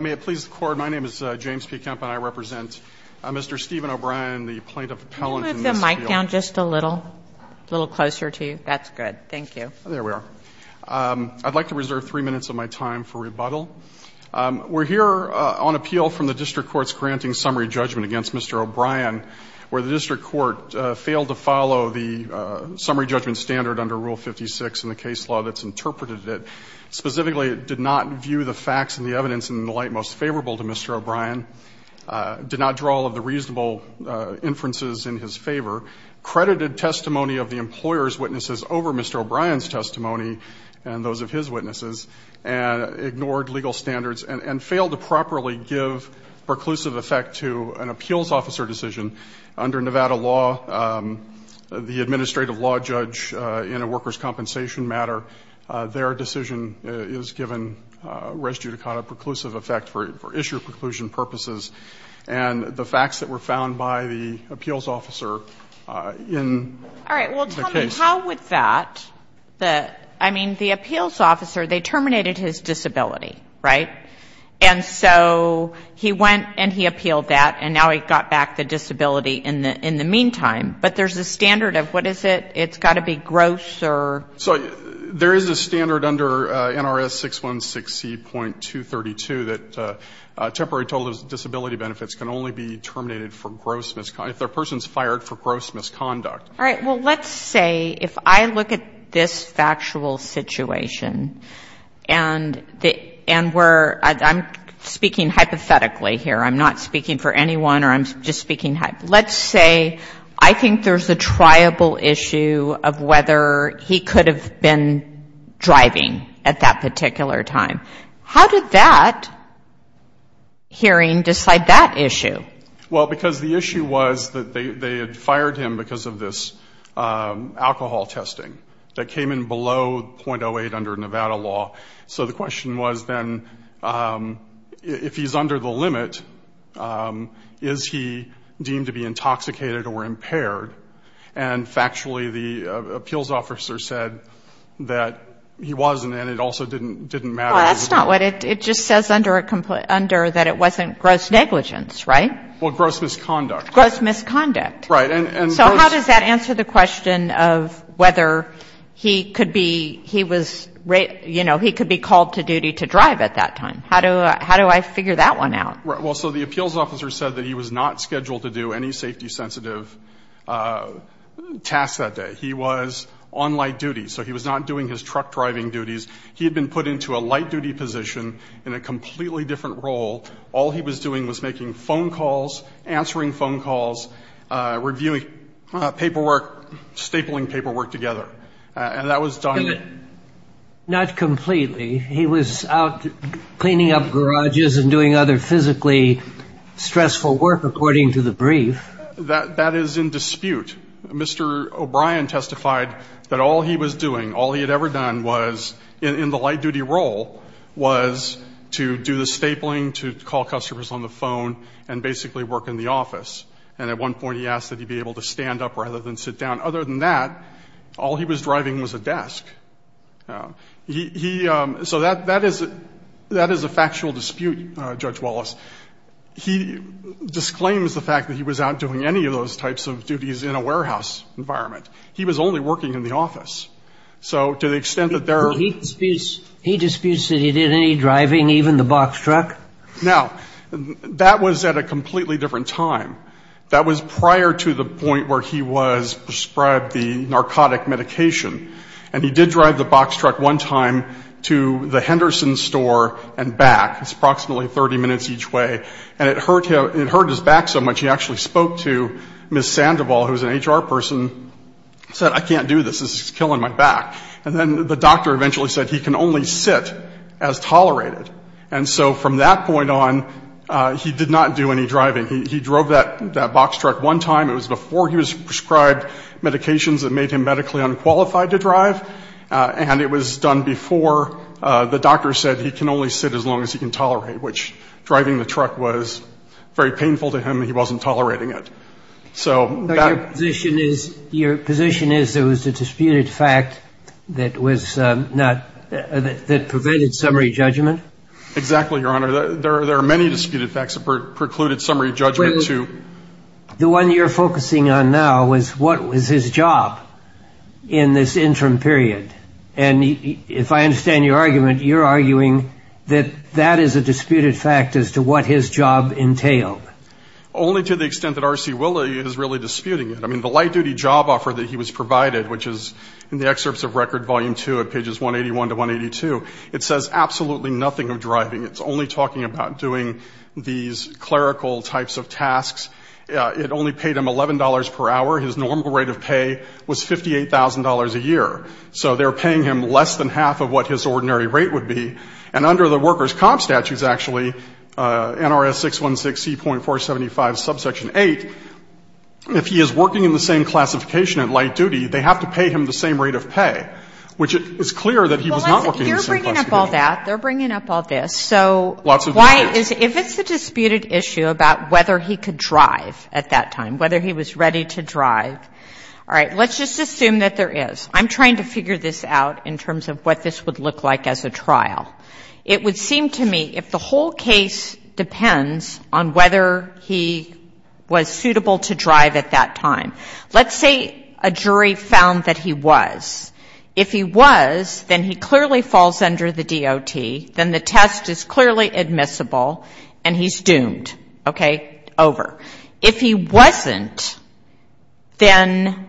May it please the Court, my name is James P. Kemp and I represent Mr. Stephen O'Brien, the Plaintiff Appellant in this appeal. Can you move the mic down just a little? A little closer to you. That's good. Thank you. There we are. I'd like to reserve three minutes of my time for rebuttal. We're here on appeal from the District Court's granting summary judgment against Mr. O'Brien, where the District Court failed to follow the summary judgment standard under Rule 56 in the case law that's interpreted. Specifically, it did not view the facts and the evidence in the light most favorable to Mr. O'Brien, did not draw all of the reasonable inferences in his favor, credited testimony of the employer's witnesses over Mr. O'Brien's testimony and those of his witnesses, and ignored legal standards and failed to properly give preclusive effect to an appeals officer decision under Nevada law. The administrative law judge in a workers' compensation matter, their decision is given res judicata preclusive effect for issue preclusion purposes, and the facts that were found by the appeals officer in the case. All right. Well, tell me, how would that the – I mean, the appeals officer, they terminated his disability, right? And so he went and he appealed that, and now he got back the disability in the meantime. But there's a standard of what is it? It's got to be gross or? So there is a standard under NRS 616C.232 that temporary total disability benefits can only be terminated for gross misconduct, if the person's fired for gross misconduct. All right. Well, let's say if I look at this factual situation and the – and we're – I'm speaking hypothetically here. I'm not speaking for anyone, or I'm just speaking – let's say I think there's a triable issue of whether he could have been driving at that particular time. How did that hearing decide that issue? Well, because the issue was that they had fired him because of this alcohol testing that came in below .08 under Nevada law. So the question was then, if he's under the limit, is he deemed to be intoxicated or impaired? And factually, the appeals officer said that he wasn't, and it also didn't matter. Well, that's not what it – it just says under that it wasn't gross negligence, right? Well, gross misconduct. Gross misconduct. Right. And gross – So the appeals officer, he could be – he was – you know, he could be called to duty to drive at that time. How do I figure that one out? Well, so the appeals officer said that he was not scheduled to do any safety-sensitive tasks that day. He was on light duty. So he was not doing his truck-driving duties. He had been put into a light-duty position in a completely different role. All he was doing was making phone calls, answering phone calls, reviewing paperwork, stapling paperwork together. And that was done – Not completely. He was out cleaning up garages and doing other physically stressful work, according to the brief. That is in dispute. Mr. O'Brien testified that all he was doing, all he had ever done was, in the light-duty role, was to do the stapling, to call customers on the phone, and basically work in the office. And at one point he asked that he be able to stand up rather than sit down. Other than that, all he was driving was a desk. He – so that is a factual dispute, Judge Wallace. He disclaims the fact that he was out doing any of those types of duties in a warehouse environment. He was only working in the office. So to the extent that there are – He disputes that he did any driving, even the box truck. Now, that was at a completely different time. That was prior to the point where he was prescribed the narcotic medication. And he did drive the box truck one time to the Henderson store and back. It's approximately 30 minutes each way. And it hurt his back so much, he actually spoke to Ms. Sandoval, who is an HR person, and said, I can't do this. This is killing my back. And then the doctor eventually said he can only sit as tolerated. And so from that point on, he did not do any driving. He drove that box truck one time. It was before he was prescribed medications that made him medically unqualified to drive. And it was done before the doctor said he can only sit as long as he can tolerate, which driving the truck was very painful to him. He wasn't tolerating it. Your position is there was a disputed fact that prevented summary judgment? Exactly, Your Honor. There are many disputed facts that precluded summary judgment. The one you're focusing on now was what was his job in this interim period. And if I understand your argument, you're arguing that that is a disputed fact as to what his job entailed. Only to the extent that R.C. Willey is really disputing it. I mean, the light-duty job offer that he was provided, which is in the excerpts of Record Volume 2 at pages 181 to 182, it says absolutely nothing of driving. It's only talking about doing these clerical types of tasks. It only paid him $11 per hour. His normal rate of pay was $58,000 a year. So they're paying him less than half of what his ordinary rate would be. And under the workers' comp statutes, actually, NRS 616C.475, subsection 8, if he is working in the same classification at light duty, they have to pay him the same rate of pay, which is clear that he was not working in the same classification. Well, you're bringing up all that. They're bringing up all this. So why is it, if it's a disputed issue about whether he could drive at that time, whether he was ready to drive, all right, let's just assume that there is. I'm trying to figure this out in terms of what this would look like as a trial. It would seem to me if the whole case depends on whether he was suitable to drive at that time. Let's say a jury found that he was. If he was, then he clearly falls under the DOT, then the test is clearly admissible, and he's doomed. Okay? Over. If he wasn't, then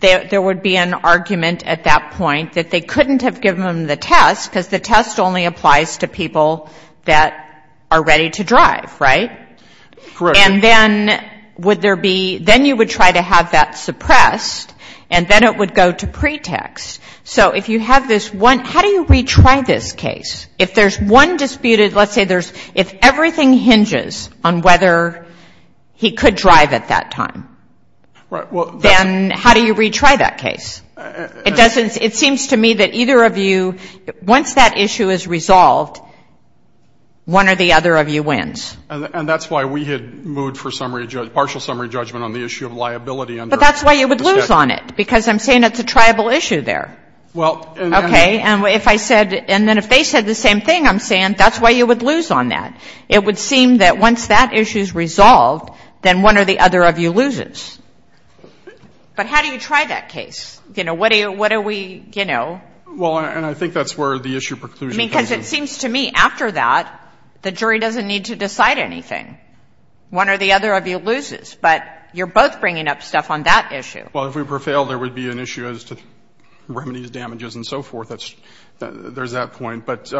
there would be an argument at that point that they couldn't have given him the test, because the test only applies to people that are ready to drive. Right? And then would there be, then you would try to have that suppressed, and then it would go to pretext. So if you have this one, how do you retry this case? If there's one disputed, let's say there's, if everything hinges on whether he could drive at that time, then how do you retry that case? It doesn't, it seems to me that either of you, once that issue is resolved, one or the other of you wins. And that's why we had moved for partial summary judgment on the issue of liability under the statute. But that's why you would lose on it, because I'm saying it's a triable issue there. Well, and then. Okay. And if I said, and then if they said the same thing, I'm saying that's why you would lose on that. It would seem that once that issue is resolved, then one or the other of you loses. But how do you try that case? You know, what do you, what do we, you know? Well, and I think that's where the issue preclusion comes in. I mean, because it seems to me after that, the jury doesn't need to decide anything. One or the other of you loses. But you're both bringing up stuff on that issue. Well, if we prevail, there would be an issue as to remedies, damages, and so forth. There's that point. But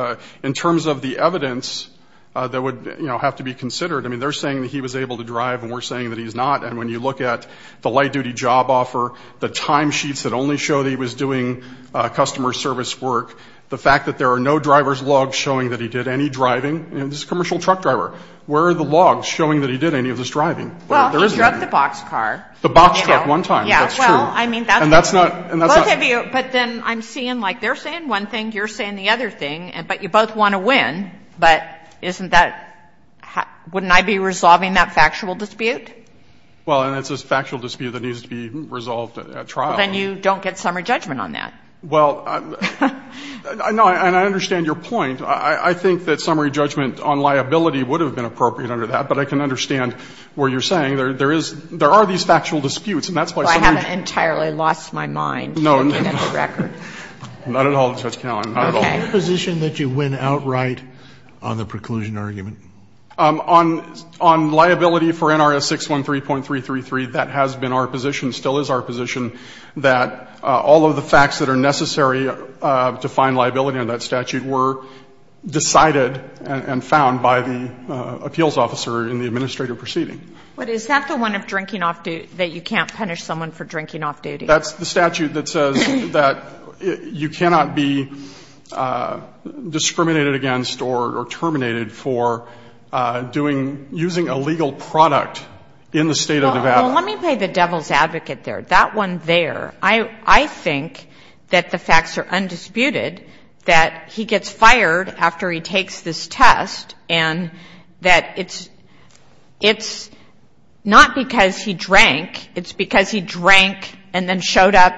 in terms of the evidence that would, you know, have to be considered, I mean, they're saying that he was able to drive, and we're saying that he's not. And when you look at the light-duty job offer, the timesheets that only show that he was doing customer service work, the fact that there are no driver's logs showing that he did any driving. You know, this is a commercial truck driver. Where are the logs showing that he did any of this driving? Well, he drug the boxcar. The box truck one time, that's true. Yeah, well, I mean, that's not. And that's not. Both of you. But then I'm seeing, like, they're saying one thing, you're saying the other thing. But you both want to win. But isn't that — wouldn't I be resolving that factual dispute? Well, and it's a factual dispute that needs to be resolved at trial. Well, then you don't get summary judgment on that. Well, no, and I understand your point. I think that summary judgment on liability would have been appropriate under that. But I can understand what you're saying. There is — there are these factual disputes. And that's why summary — Well, I haven't entirely lost my mind looking at the record. No, no, no. Not at all, Judge Kagan. Not at all. Okay. Is it your position that you win outright on the preclusion argument? On liability for NRS 613.333, that has been our position, still is our position, that all of the facts that are necessary to find liability under that statute were decided and found by the appeals officer in the administrative proceeding. But is that the one of drinking off — that you can't punish someone for drinking off duty? That's the statute that says that you cannot be discriminated against or terminated for doing — using a legal product in the State of Nevada. Well, let me play the devil's advocate there. That one there, I think that the facts are undisputed, that he gets fired after he takes this test, and that it's — it's not because he drank. It's because he drank and then showed up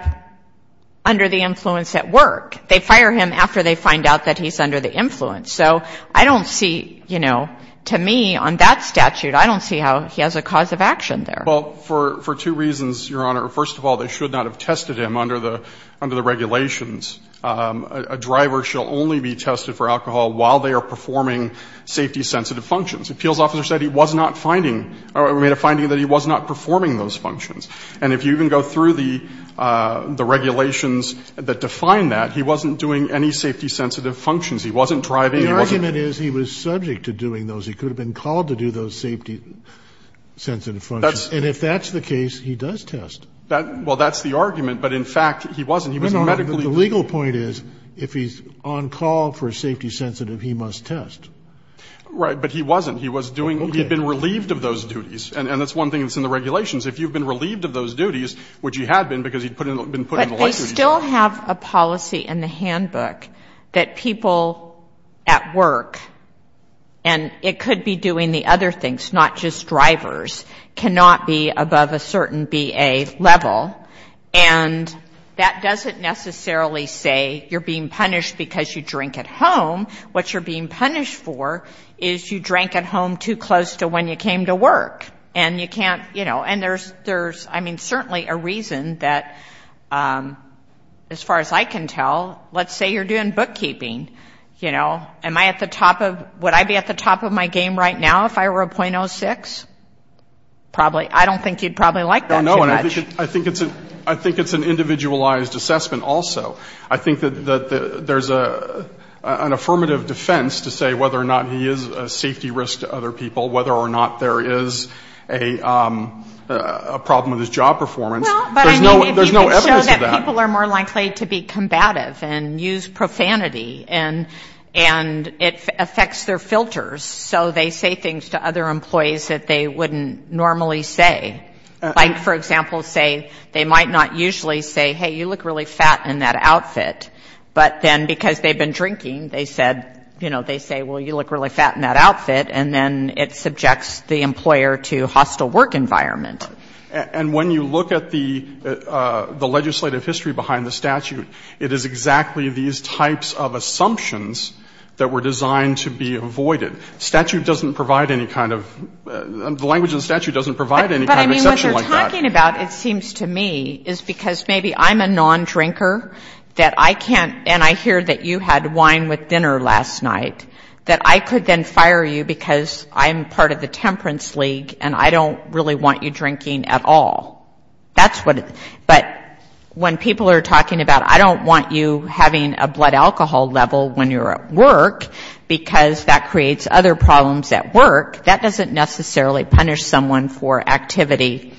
under the influence at work. They fire him after they find out that he's under the influence. So I don't see, you know, to me on that statute, I don't see how he has a cause of action there. Well, for two reasons, Your Honor. First of all, they should not have tested him under the regulations. A driver shall only be tested for alcohol while they are performing safety-sensitive functions. The appeals officer said he was not finding — or made a finding that he was not performing those functions. And if you even go through the regulations that define that, he wasn't doing any safety-sensitive functions. He wasn't driving, he wasn't — The argument is he was subject to doing those. He could have been called to do those safety-sensitive functions. And if that's the case, he does test. Well, that's the argument. But in fact, he wasn't. No, no, no. The legal point is if he's on call for safety-sensitive, he must test. Right. But he wasn't. He was doing — he had been relieved of those duties. And that's one thing that's in the regulations. If you've been relieved of those duties, which you had been because he'd been put in the light duties. But they still have a policy in the handbook that people at work, and it could be doing the other things, not just drivers, cannot be above a certain BA level. And that doesn't necessarily say you're being punished because you drink at home. What you're being punished for is you drank at home too close to when you came to work. And you can't — you know, and there's — there's, I mean, certainly a reason that, as far as I can tell, let's say you're doing bookkeeping, you know. Am I at the top of — would I be at the top of my game right now if I were a .06? Probably. I don't think you'd probably like that too much. I think it's — I think it's an individualized assessment also. I think that there's an affirmative defense to say whether or not he is a safety risk to other people, whether or not there is a problem with his job performance. Well, but I mean — There's no evidence of that. — if you could show that people are more likely to be combative and use profanity, and it affects their filters. So they say things to other employees that they wouldn't normally say. Like, for example, say they might not usually say, hey, you look really fat in that outfit, but then because they've been drinking, they said, you know, they say, well, you look really fat in that outfit, and then it subjects the employer to hostile work environment. And when you look at the legislative history behind the statute, it is exactly these types of assumptions that were designed to be avoided. The statute doesn't provide any kind of — the language in the statute doesn't provide any kind of exception like that. But I mean, what you're talking about, it seems to me, is because maybe I'm a nondrinker that I can't — and I hear that you had wine with dinner last night, that I could then fire you because I'm part of the temperance league and I don't really want you drinking at all. That's what — but when people are talking about I don't want you having a blood alcohol level when you're at work because that creates other problems at work, that doesn't necessarily punish someone for activity.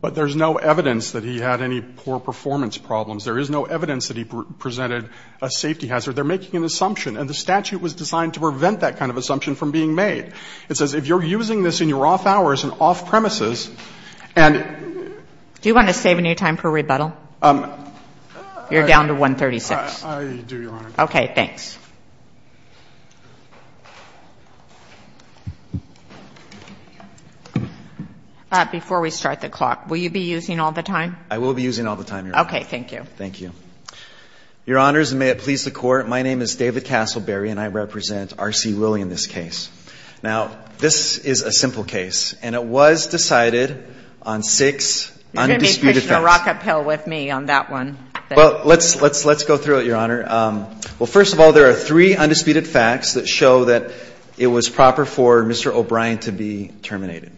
But there's no evidence that he had any poor performance problems. There is no evidence that he presented a safety hazard. They're making an assumption. And the statute was designed to prevent that kind of assumption from being made. It says if you're using this in your off hours and off premises, and — Do you want to save any time for rebuttal? You're down to 136. I do, Your Honor. Okay. Thanks. Before we start the clock, will you be using all the time? I will be using all the time, Your Honor. Okay. Thank you. Thank you. Your Honors, and may it please the Court, my name is David Castleberry, and I represent R.C. Willey in this case. Now, this is a simple case, and it was decided on six undisputed facts. You're going to be pushing a rock uphill with me on that one. Well, let's go through it, Your Honor. Well, first of all, there are three undisputed facts that show that it was proper for Mr. O'Brien to be terminated.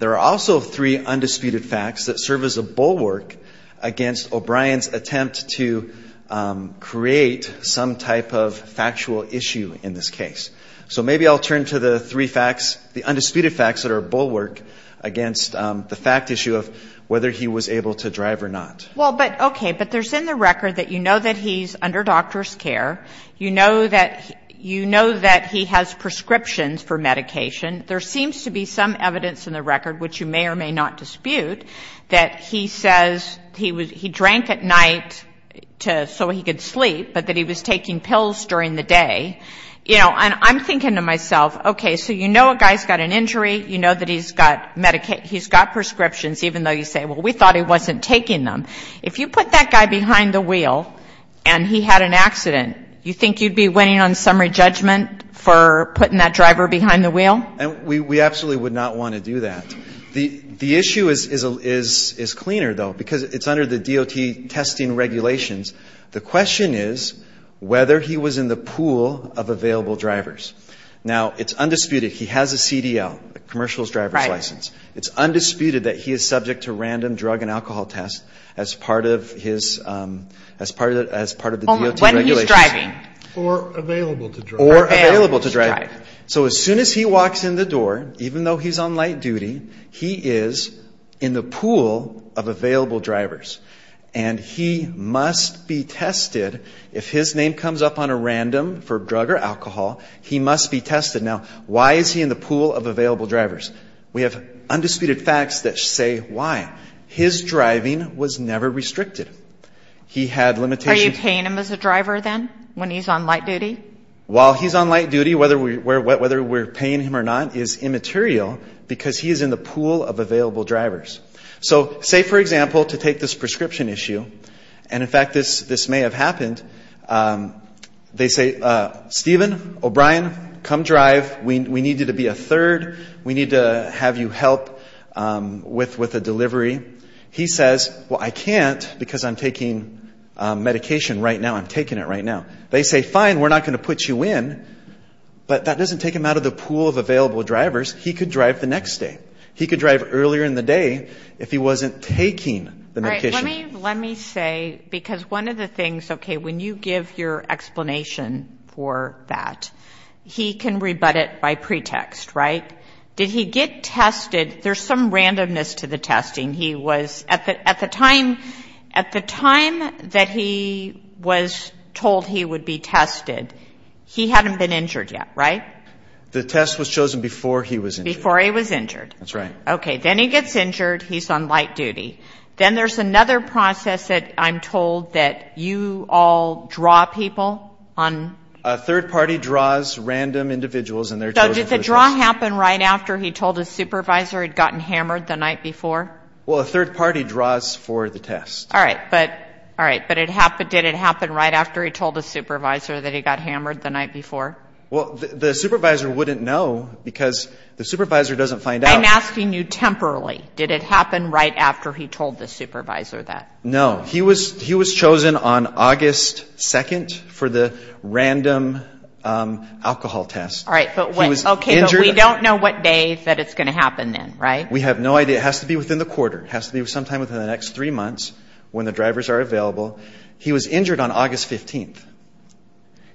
There are also three undisputed facts that serve as a bulwark against O'Brien's attempt to create some type of factual issue in this case. So maybe I'll turn to the three facts, the undisputed facts that are a bulwark against the fact issue of whether he was able to drive or not. Well, but, okay, but there's in the record that you know that he's under doctor's care. You know that he has prescriptions for medication. There seems to be some evidence in the record, which you may or may not dispute, that he says he drank at night so he could sleep, but that he was taking pills during the day. You know, and I'm thinking to myself, okay, so you know a guy's got an injury, you know that he's got prescriptions, even though you say, well, we thought he wasn't taking them. If you put that guy behind the wheel and he had an accident, you think you'd be winning on summary judgment for putting that driver behind the wheel? And we absolutely would not want to do that. The issue is cleaner, though, because it's under the DOT testing regulations. The question is whether he was in the pool of available drivers. Now, it's undisputed he has a CDL, a commercial driver's license. Right. It's undisputed that he is subject to random drug and alcohol tests as part of his, as part of the DOT regulations. When he's driving. Or available to drive. Or available to drive. So as soon as he walks in the door, even though he's on light duty, he is in the pool of available drivers, and he must be tested. If his name comes up on a random for drug or alcohol, he must be tested. Now, why is he in the pool of available drivers? We have undisputed facts that say why. His driving was never restricted. He had limitations. Are you paying him as a driver, then, when he's on light duty? While he's on light duty, whether we're paying him or not is immaterial because he is in the pool of available drivers. So, say, for example, to take this prescription issue, and in fact this may have happened, they say, Stephen, O'Brien, come drive. We need you to be a third. We need to have you help with a delivery. He says, well, I can't because I'm taking medication right now. I'm taking it right now. They say, fine, we're not going to put you in, but that doesn't take him out of the pool of available drivers. He could drive the next day. He could drive earlier in the day if he wasn't taking the medication. All right, let me say, because one of the things, okay, when you give your explanation for that, he can rebut it by pretext, right? Did he get tested? There's some randomness to the testing. He was, at the time that he was told he would be tested, he hadn't been injured yet, right? The test was chosen before he was injured. That's right. Okay, then he gets injured. He's on light duty. Then there's another process that I'm told that you all draw people on. A third party draws random individuals and they're chosen for the test. So did the draw happen right after he told his supervisor he'd gotten hammered the night before? Well, a third party draws for the test. All right, but did it happen right after he told his supervisor that he got hammered the night before? Well, the supervisor wouldn't know because the supervisor doesn't find out. I'm asking you temporarily. Did it happen right after he told the supervisor that? No. He was chosen on August 2nd for the random alcohol test. All right, but we don't know what day that it's going to happen then, right? We have no idea. It has to be within the quarter. It has to be sometime within the next three months when the drivers are available. He was injured on August 15th.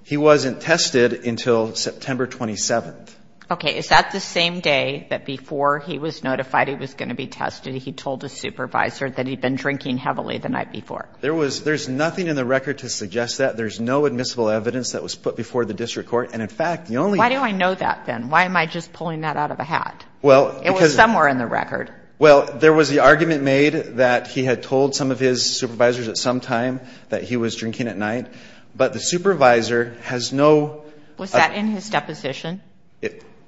He wasn't tested until September 27th. Okay. Is that the same day that before he was notified he was going to be tested, he told his supervisor that he'd been drinking heavily the night before? There's nothing in the record to suggest that. There's no admissible evidence that was put before the district court. And, in fact, the only ---- Why do I know that then? Why am I just pulling that out of a hat? Well, because ---- It was somewhere in the record. Well, there was the argument made that he had told some of his supervisors at some time that he was drinking at night. But the supervisor has no ---- Was that in his deposition?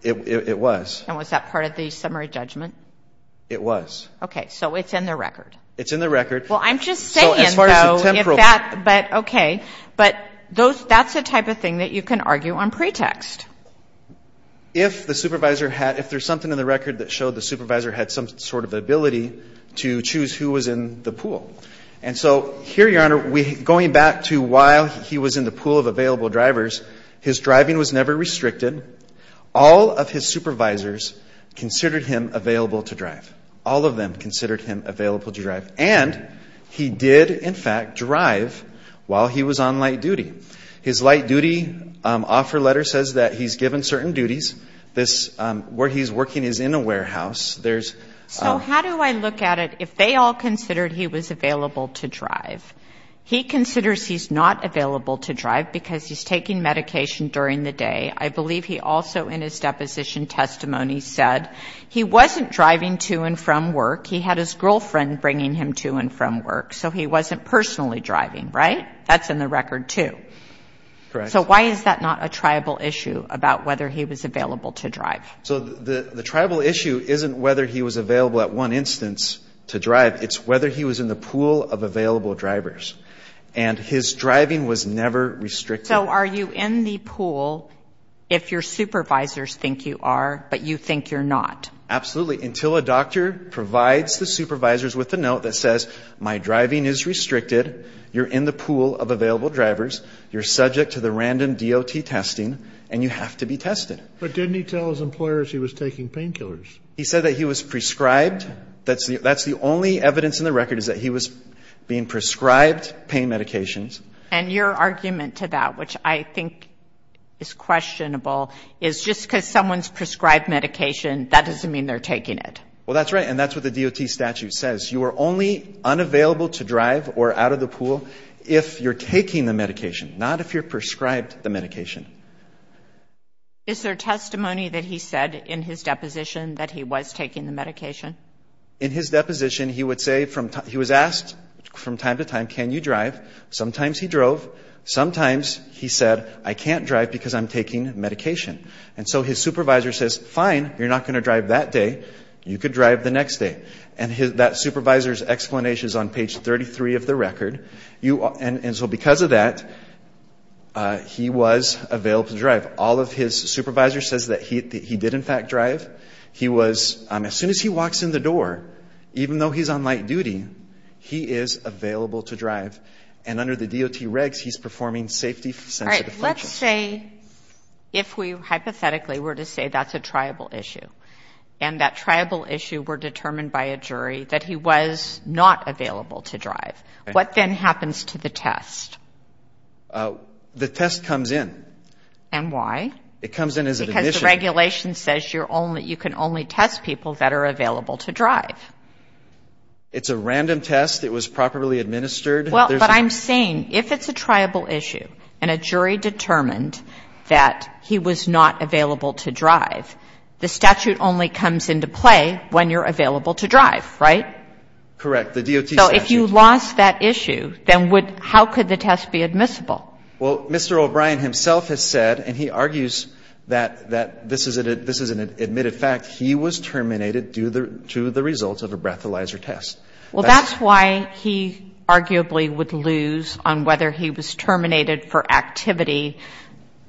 It was. And was that part of the summary judgment? It was. Okay. So it's in the record. It's in the record. Well, I'm just saying, though, if that ---- So as far as the temporal ---- But, okay. But that's the type of thing that you can argue on pretext. If the supervisor had ---- If there's something in the record that showed the supervisor had some sort of ability to choose who was in the pool. And so here, Your Honor, going back to while he was in the pool of available drivers, his driving was never restricted. All of his supervisors considered him available to drive. All of them considered him available to drive. And he did, in fact, drive while he was on light duty. His light duty offer letter says that he's given certain duties. This ---- where he's working is in a warehouse. There's ---- So how do I look at it if they all considered he was available to drive? He considers he's not available to drive because he's taking medication during the day. I believe he also in his deposition testimony said he wasn't driving to and from work. He had his girlfriend bringing him to and from work. So he wasn't personally driving, right? That's in the record, too. Correct. So why is that not a tribal issue about whether he was available to drive? So the tribal issue isn't whether he was available at one instance to drive. It's whether he was in the pool of available drivers. And his driving was never restricted. So are you in the pool if your supervisors think you are but you think you're not? Absolutely, until a doctor provides the supervisors with a note that says, my driving is restricted, you're in the pool of available drivers, you're subject to the random DOT testing, and you have to be tested. But didn't he tell his employers he was taking painkillers? He said that he was prescribed. That's the only evidence in the record is that he was being prescribed pain medications. And your argument to that, which I think is questionable, is just because someone's prescribed medication, that doesn't mean they're taking it. Well, that's right. And that's what the DOT statute says. You are only unavailable to drive or out of the pool if you're taking the medication, not if you're prescribed the medication. Is there testimony that he said in his deposition that he was taking the medication? In his deposition, he was asked from time to time, can you drive? Sometimes he drove. Sometimes he said, I can't drive because I'm taking medication. And so his supervisor says, fine, you're not going to drive that day. You could drive the next day. And that supervisor's explanation is on page 33 of the record. And so because of that, he was available to drive. All of his supervisor says that he did, in fact, drive. As soon as he walks in the door, even though he's on light duty, he is available to drive. And under the DOT regs, he's performing safety sensitive functions. All right, let's say if we hypothetically were to say that's a triable issue and that triable issue were determined by a jury that he was not available to drive, what then happens to the test? The test comes in. And why? It comes in as an admission. Because the regulation says you can only test people that are available to drive. It's a random test. It was properly administered. Well, but I'm saying if it's a triable issue and a jury determined that he was not available to drive, the statute only comes into play when you're available to drive, right? Correct, the DOT statute. So if you lost that issue, then how could the test be admissible? Well, Mr. O'Brien himself has said, and he argues that this is an admitted fact, he was terminated due to the results of a breathalyzer test. Well, that's why he arguably would lose on whether he was terminated for activity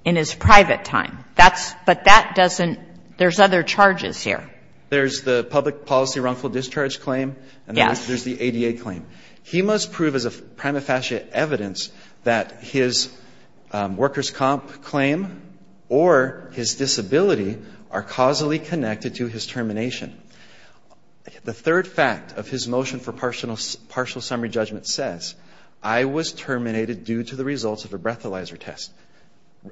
in his private time. That's — but that doesn't — there's other charges here. There's the public policy wrongful discharge claim. Yes. There's the ADA claim. He must prove as a prima facie evidence that his workers' comp claim or his disability are causally connected to his termination. The third fact of his motion for partial summary judgment says, I was terminated due to the results of a breathalyzer test.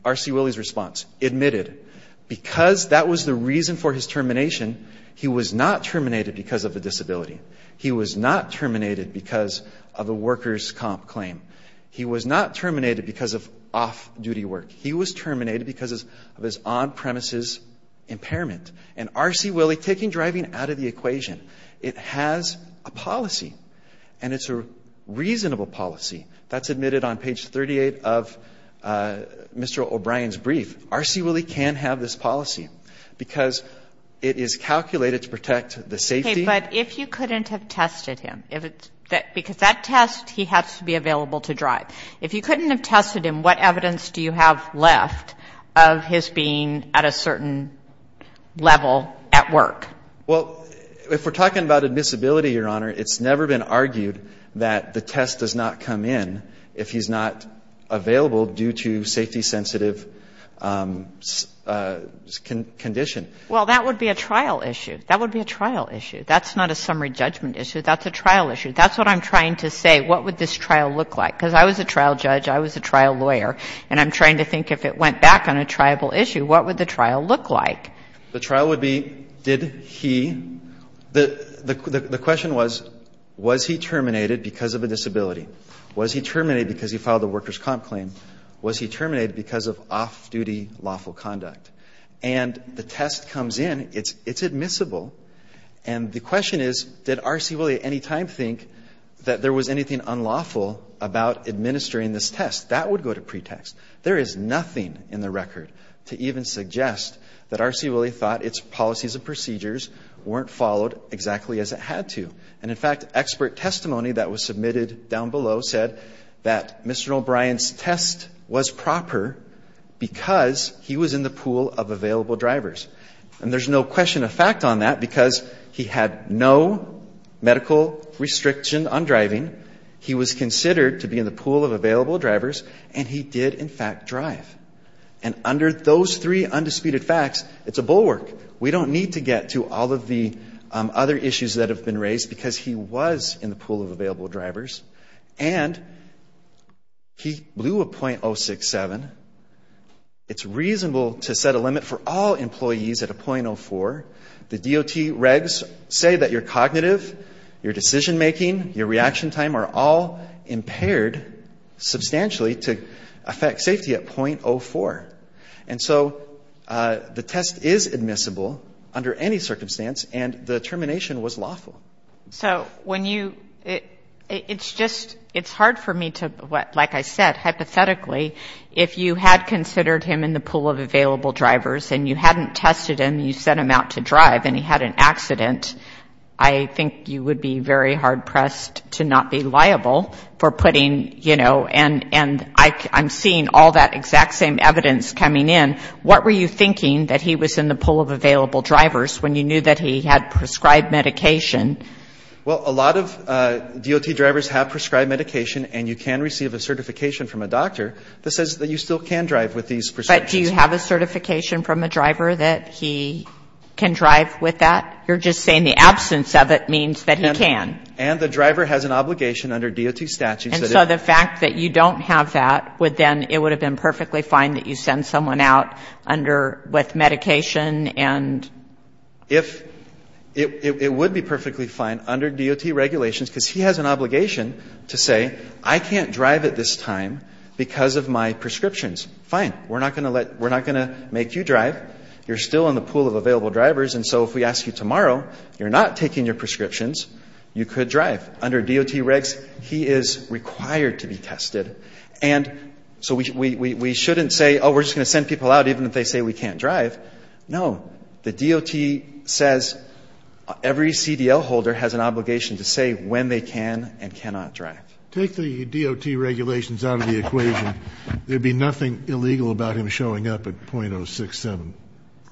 R.C. Willey's response, admitted. Because that was the reason for his termination, he was not terminated because of a disability. He was not terminated because of a workers' comp claim. He was not terminated because of off-duty work. He was terminated because of his on-premises impairment. And R.C. Willey, taking driving out of the equation, it has a policy, and it's a reasonable policy. That's admitted on page 38 of Mr. O'Brien's brief. R.C. Willey can have this policy because it is calculated to protect the safety. Okay, but if you couldn't have tested him, because that test he has to be available to drive, if you couldn't have tested him, what evidence do you have left of his being at a certain level at work? Well, if we're talking about a disability, Your Honor, it's never been argued that the test does not come in if he's not available due to safety-sensitive condition. Well, that would be a trial issue. That would be a trial issue. That's not a summary judgment issue. That's a trial issue. That's what I'm trying to say. What would this trial look like? Because I was a trial judge, I was a trial lawyer, and I'm trying to think if it went back on a triable issue, what would the trial look like? The trial would be, did he — the question was, was he terminated because of a disability? Was he terminated because he filed a workers' comp claim? Was he terminated because of off-duty lawful conduct? And the test comes in, it's admissible, and the question is, did R.C. Willey at any time think that there was anything unlawful about administering this test? That would go to pretext. There is nothing in the record to even suggest that R.C. Willey thought its policies and procedures weren't followed exactly as it had to. And, in fact, expert testimony that was submitted down below said that Mr. O'Brien's test was proper because he was in the pool of available drivers. And there's no question of fact on that because he had no medical restriction on driving, he was considered to be in the pool of available drivers, and he did, in fact, drive. And under those three undisputed facts, it's a bulwark. We don't need to get to all of the other issues that have been raised because he was in the pool of available drivers. And he blew a .067. It's reasonable to set a limit for all employees at a .04. The DOT regs say that your cognitive, your decision-making, your reaction time are all impaired substantially to affect safety at .04. And so the test is admissible under any circumstance, and the termination was lawful. So when you, it's just, it's hard for me to, like I said, hypothetically, if you had considered him in the pool of available drivers and you hadn't tested him, you sent him out to drive and he had an accident, I think you would be very hard-pressed to not be liable for putting, you know, and I'm seeing all that exact same evidence coming in, what were you thinking that he was in the pool of available drivers when you knew that he had prescribed medication? Well, a lot of DOT drivers have prescribed medication and you can receive a certification from a doctor that says that you still can drive with these prescriptions. But do you have a certification from a driver that he can drive with that? You're just saying the absence of it means that he can. And the driver has an obligation under DOT statutes. And so the fact that you don't have that would then, it would have been perfectly fine that you send someone out under, with medication and... If, it would be perfectly fine under DOT regulations because he has an obligation to say, I can't drive at this time because of my prescriptions. Fine, we're not going to let, we're not going to make you drive. You're still in the pool of available drivers. And so if we ask you tomorrow, you're not taking your prescriptions, you could drive. Under DOT regs, he is required to be tested. And so we shouldn't say, oh, we're just going to send people out even if they say we can't drive. No. The DOT says every CDL holder has an obligation to say when they can and cannot drive. Take the DOT regulations out of the equation. There'd be nothing illegal about him showing up at .067.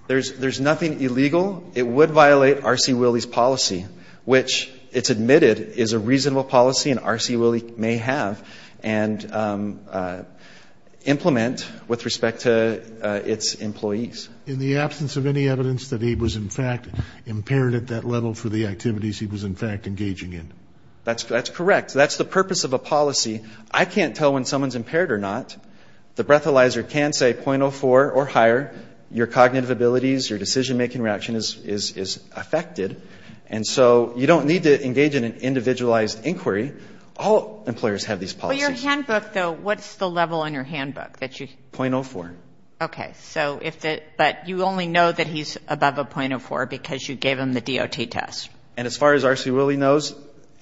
There's nothing illegal. It would violate R.C. Willey's policy, which it's admitted is a reasonable policy and R.C. Willey may have. And implement with respect to its employees. In the absence of any evidence that he was, in fact, impaired at that level for the activities he was, in fact, engaging in. That's correct. That's the purpose of a policy. I can't tell when someone's impaired or not. The breathalyzer can say .04 or higher. Your cognitive abilities, your decision-making reaction is affected. And so you don't need to engage in an individualized inquiry. All employers have these policies. Well, your handbook, though, what's the level on your handbook? .04. Okay. But you only know that he's above a .04 because you gave him the DOT test. And as far as R.C. Willey knows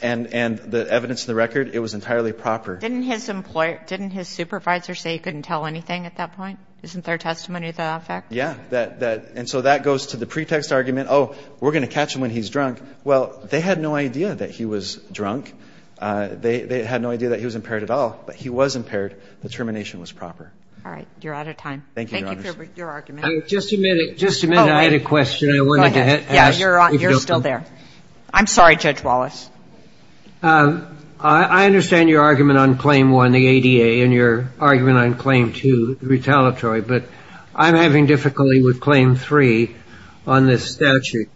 and the evidence in the record, it was entirely proper. Didn't his supervisor say he couldn't tell anything at that point? Isn't their testimony the fact? Yeah. And so that goes to the pretext argument, oh, we're going to catch him when he's drunk. Well, they had no idea that he was drunk. They had no idea that he was impaired at all. But he was impaired. The termination was proper. All right. You're out of time. Thank you, Your Honor. Thank you for your argument. Just a minute. Just a minute. I had a question I wanted to ask. Go ahead. Yeah, you're still there. I'm sorry, Judge Wallace. I understand your argument on Claim 1, the ADA, and your argument on Claim 2, the retaliatory. But I'm having difficulty with Claim 3 on this statute.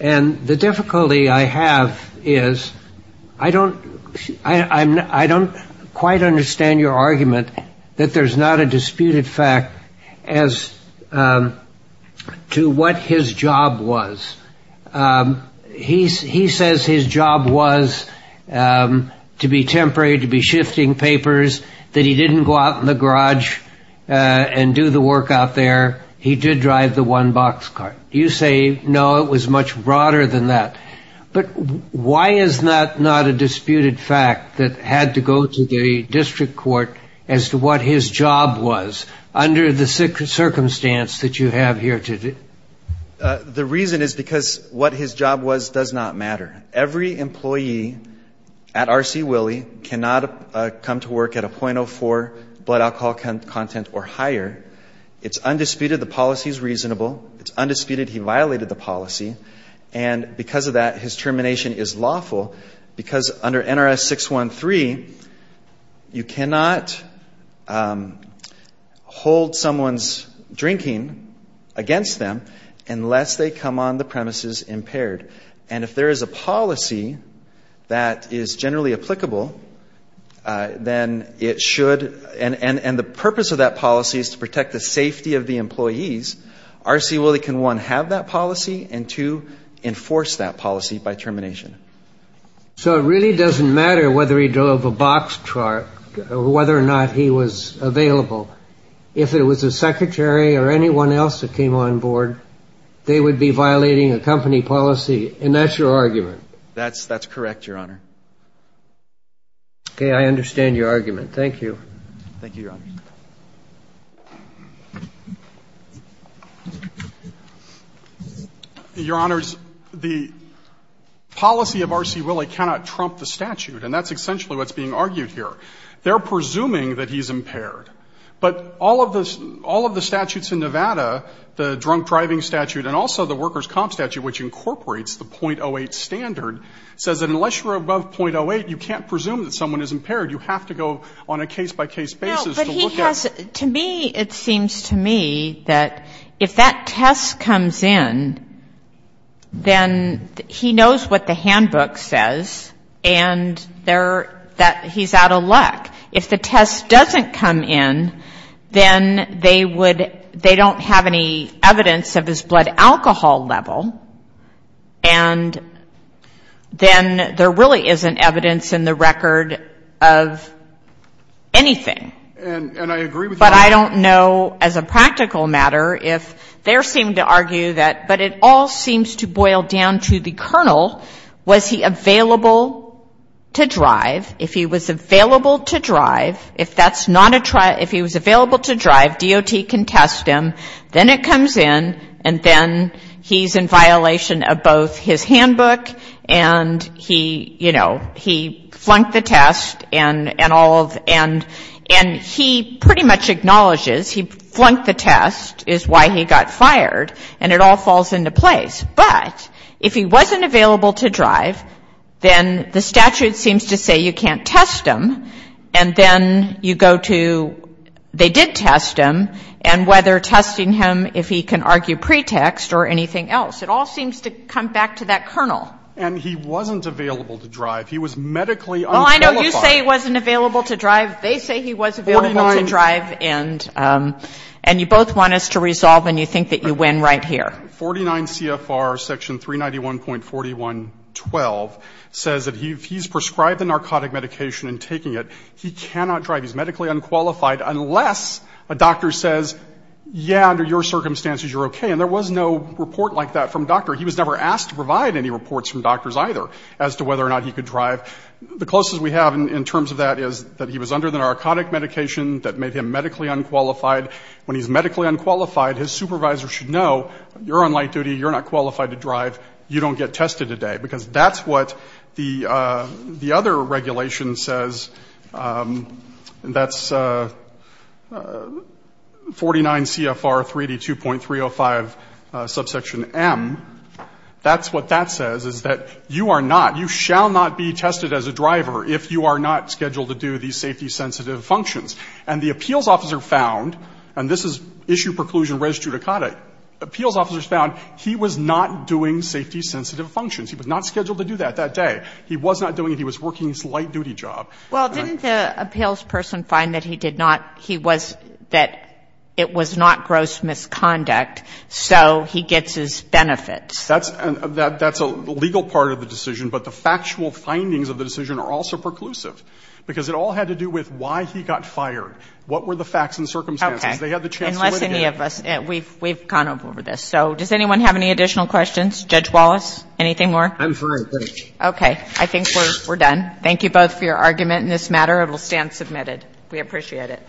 And the difficulty I have is I don't quite understand your argument that there's not a disputed fact as to what his job was. He says his job was to be temporary, to be shifting papers, that he didn't go out in the garage and do the work out there. He did drive the one-box car. You say, no, it was much broader than that. But why is that not a disputed fact that had to go to the district court as to what his job was under the circumstance that you have here today? The reason is because what his job was does not matter. Every employee at R.C. Willey cannot come to work at a .04 blood alcohol content or higher. It's undisputed the policy is reasonable. It's undisputed he violated the policy. And because of that, his termination is lawful because under NRS 613, you cannot hold someone's drinking against them unless they come on the premises impaired. And if there is a policy that is generally applicable, then it should. And the purpose of that policy is to protect the safety of the employees. R.C. Willey can, one, have that policy and, two, enforce that policy by termination. So it really doesn't matter whether he drove a box car or whether or not he was available. If it was a secretary or anyone else that came on board, they would be violating a company policy, and that's your argument? That's correct, Your Honor. Okay. I understand your argument. Thank you. Thank you, Your Honor. Your Honors, the policy of R.C. Willey cannot trump the statute, and that's essentially what's being argued here. They're presuming that he's impaired. But all of the statutes in Nevada, the drunk driving statute and also the workers' comp statute, which incorporates the .08 standard, says that unless you're above .08, you can't presume that someone is impaired. You have to go on a case-by-case basis to look at it. No, but he has, to me, it seems to me that if that test comes in, then he knows what the handbook says and that he's out of luck. If the test doesn't come in, then they don't have any evidence of his blood alcohol level, and then there really isn't evidence in the record of anything. And I agree with you on that. But I don't know, as a practical matter, if they seem to argue that, but it all seems to boil down to the colonel, was he available to drive? If he was available to drive, if that's not a trial, if he was available to drive, DOT can test him. Then it comes in, and then he's in violation of both his handbook and he, you know, he flunked the test and all of, and he pretty much acknowledges he flunked the test is why he got fired, and it all falls into place. But if he wasn't available to drive, then the statute seems to say you can't test him, and then you go to they did test him, and whether testing him, if he can argue pretext or anything else. It all seems to come back to that colonel. And he wasn't available to drive. He was medically unqualified. Oh, I know. You say he wasn't available to drive. They say he was available to drive, and you both want us to resolve, and you think that you win right here. 49 CFR section 391.4112 says that if he's prescribed the narcotic medication and taking it, he cannot drive. He's medically unqualified unless a doctor says, yeah, under your circumstances you're okay. And there was no report like that from a doctor. He was never asked to provide any reports from doctors either as to whether or not he could drive. The closest we have in terms of that is that he was under the narcotic medication that made him medically unqualified. When he's medically unqualified, his supervisor should know you're on light duty. You're not qualified to drive. You don't get tested today, because that's what the other regulation says. That's 49 CFR 382.305 subsection M. That's what that says, is that you are not, you shall not be tested as a driver if you are not scheduled to do these safety-sensitive functions. And the appeals officer found, and this is issue preclusion res judicata, appeals officers found he was not doing safety-sensitive functions. He was not scheduled to do that that day. He was not doing it. He was working his light-duty job. Well, didn't the appeals person find that he did not, he was, that it was not gross misconduct, so he gets his benefits? That's a legal part of the decision, but the factual findings of the decision are also preclusive, because it all had to do with why he got fired, what were the facts and circumstances. They had the chance to litigate. Unless any of us, we've gone over this. So does anyone have any additional questions? Judge Wallace, anything more? I'm fine, thanks. Okay. I think we're done. Thank you both for your argument in this matter. It will stand submitted. We appreciate it.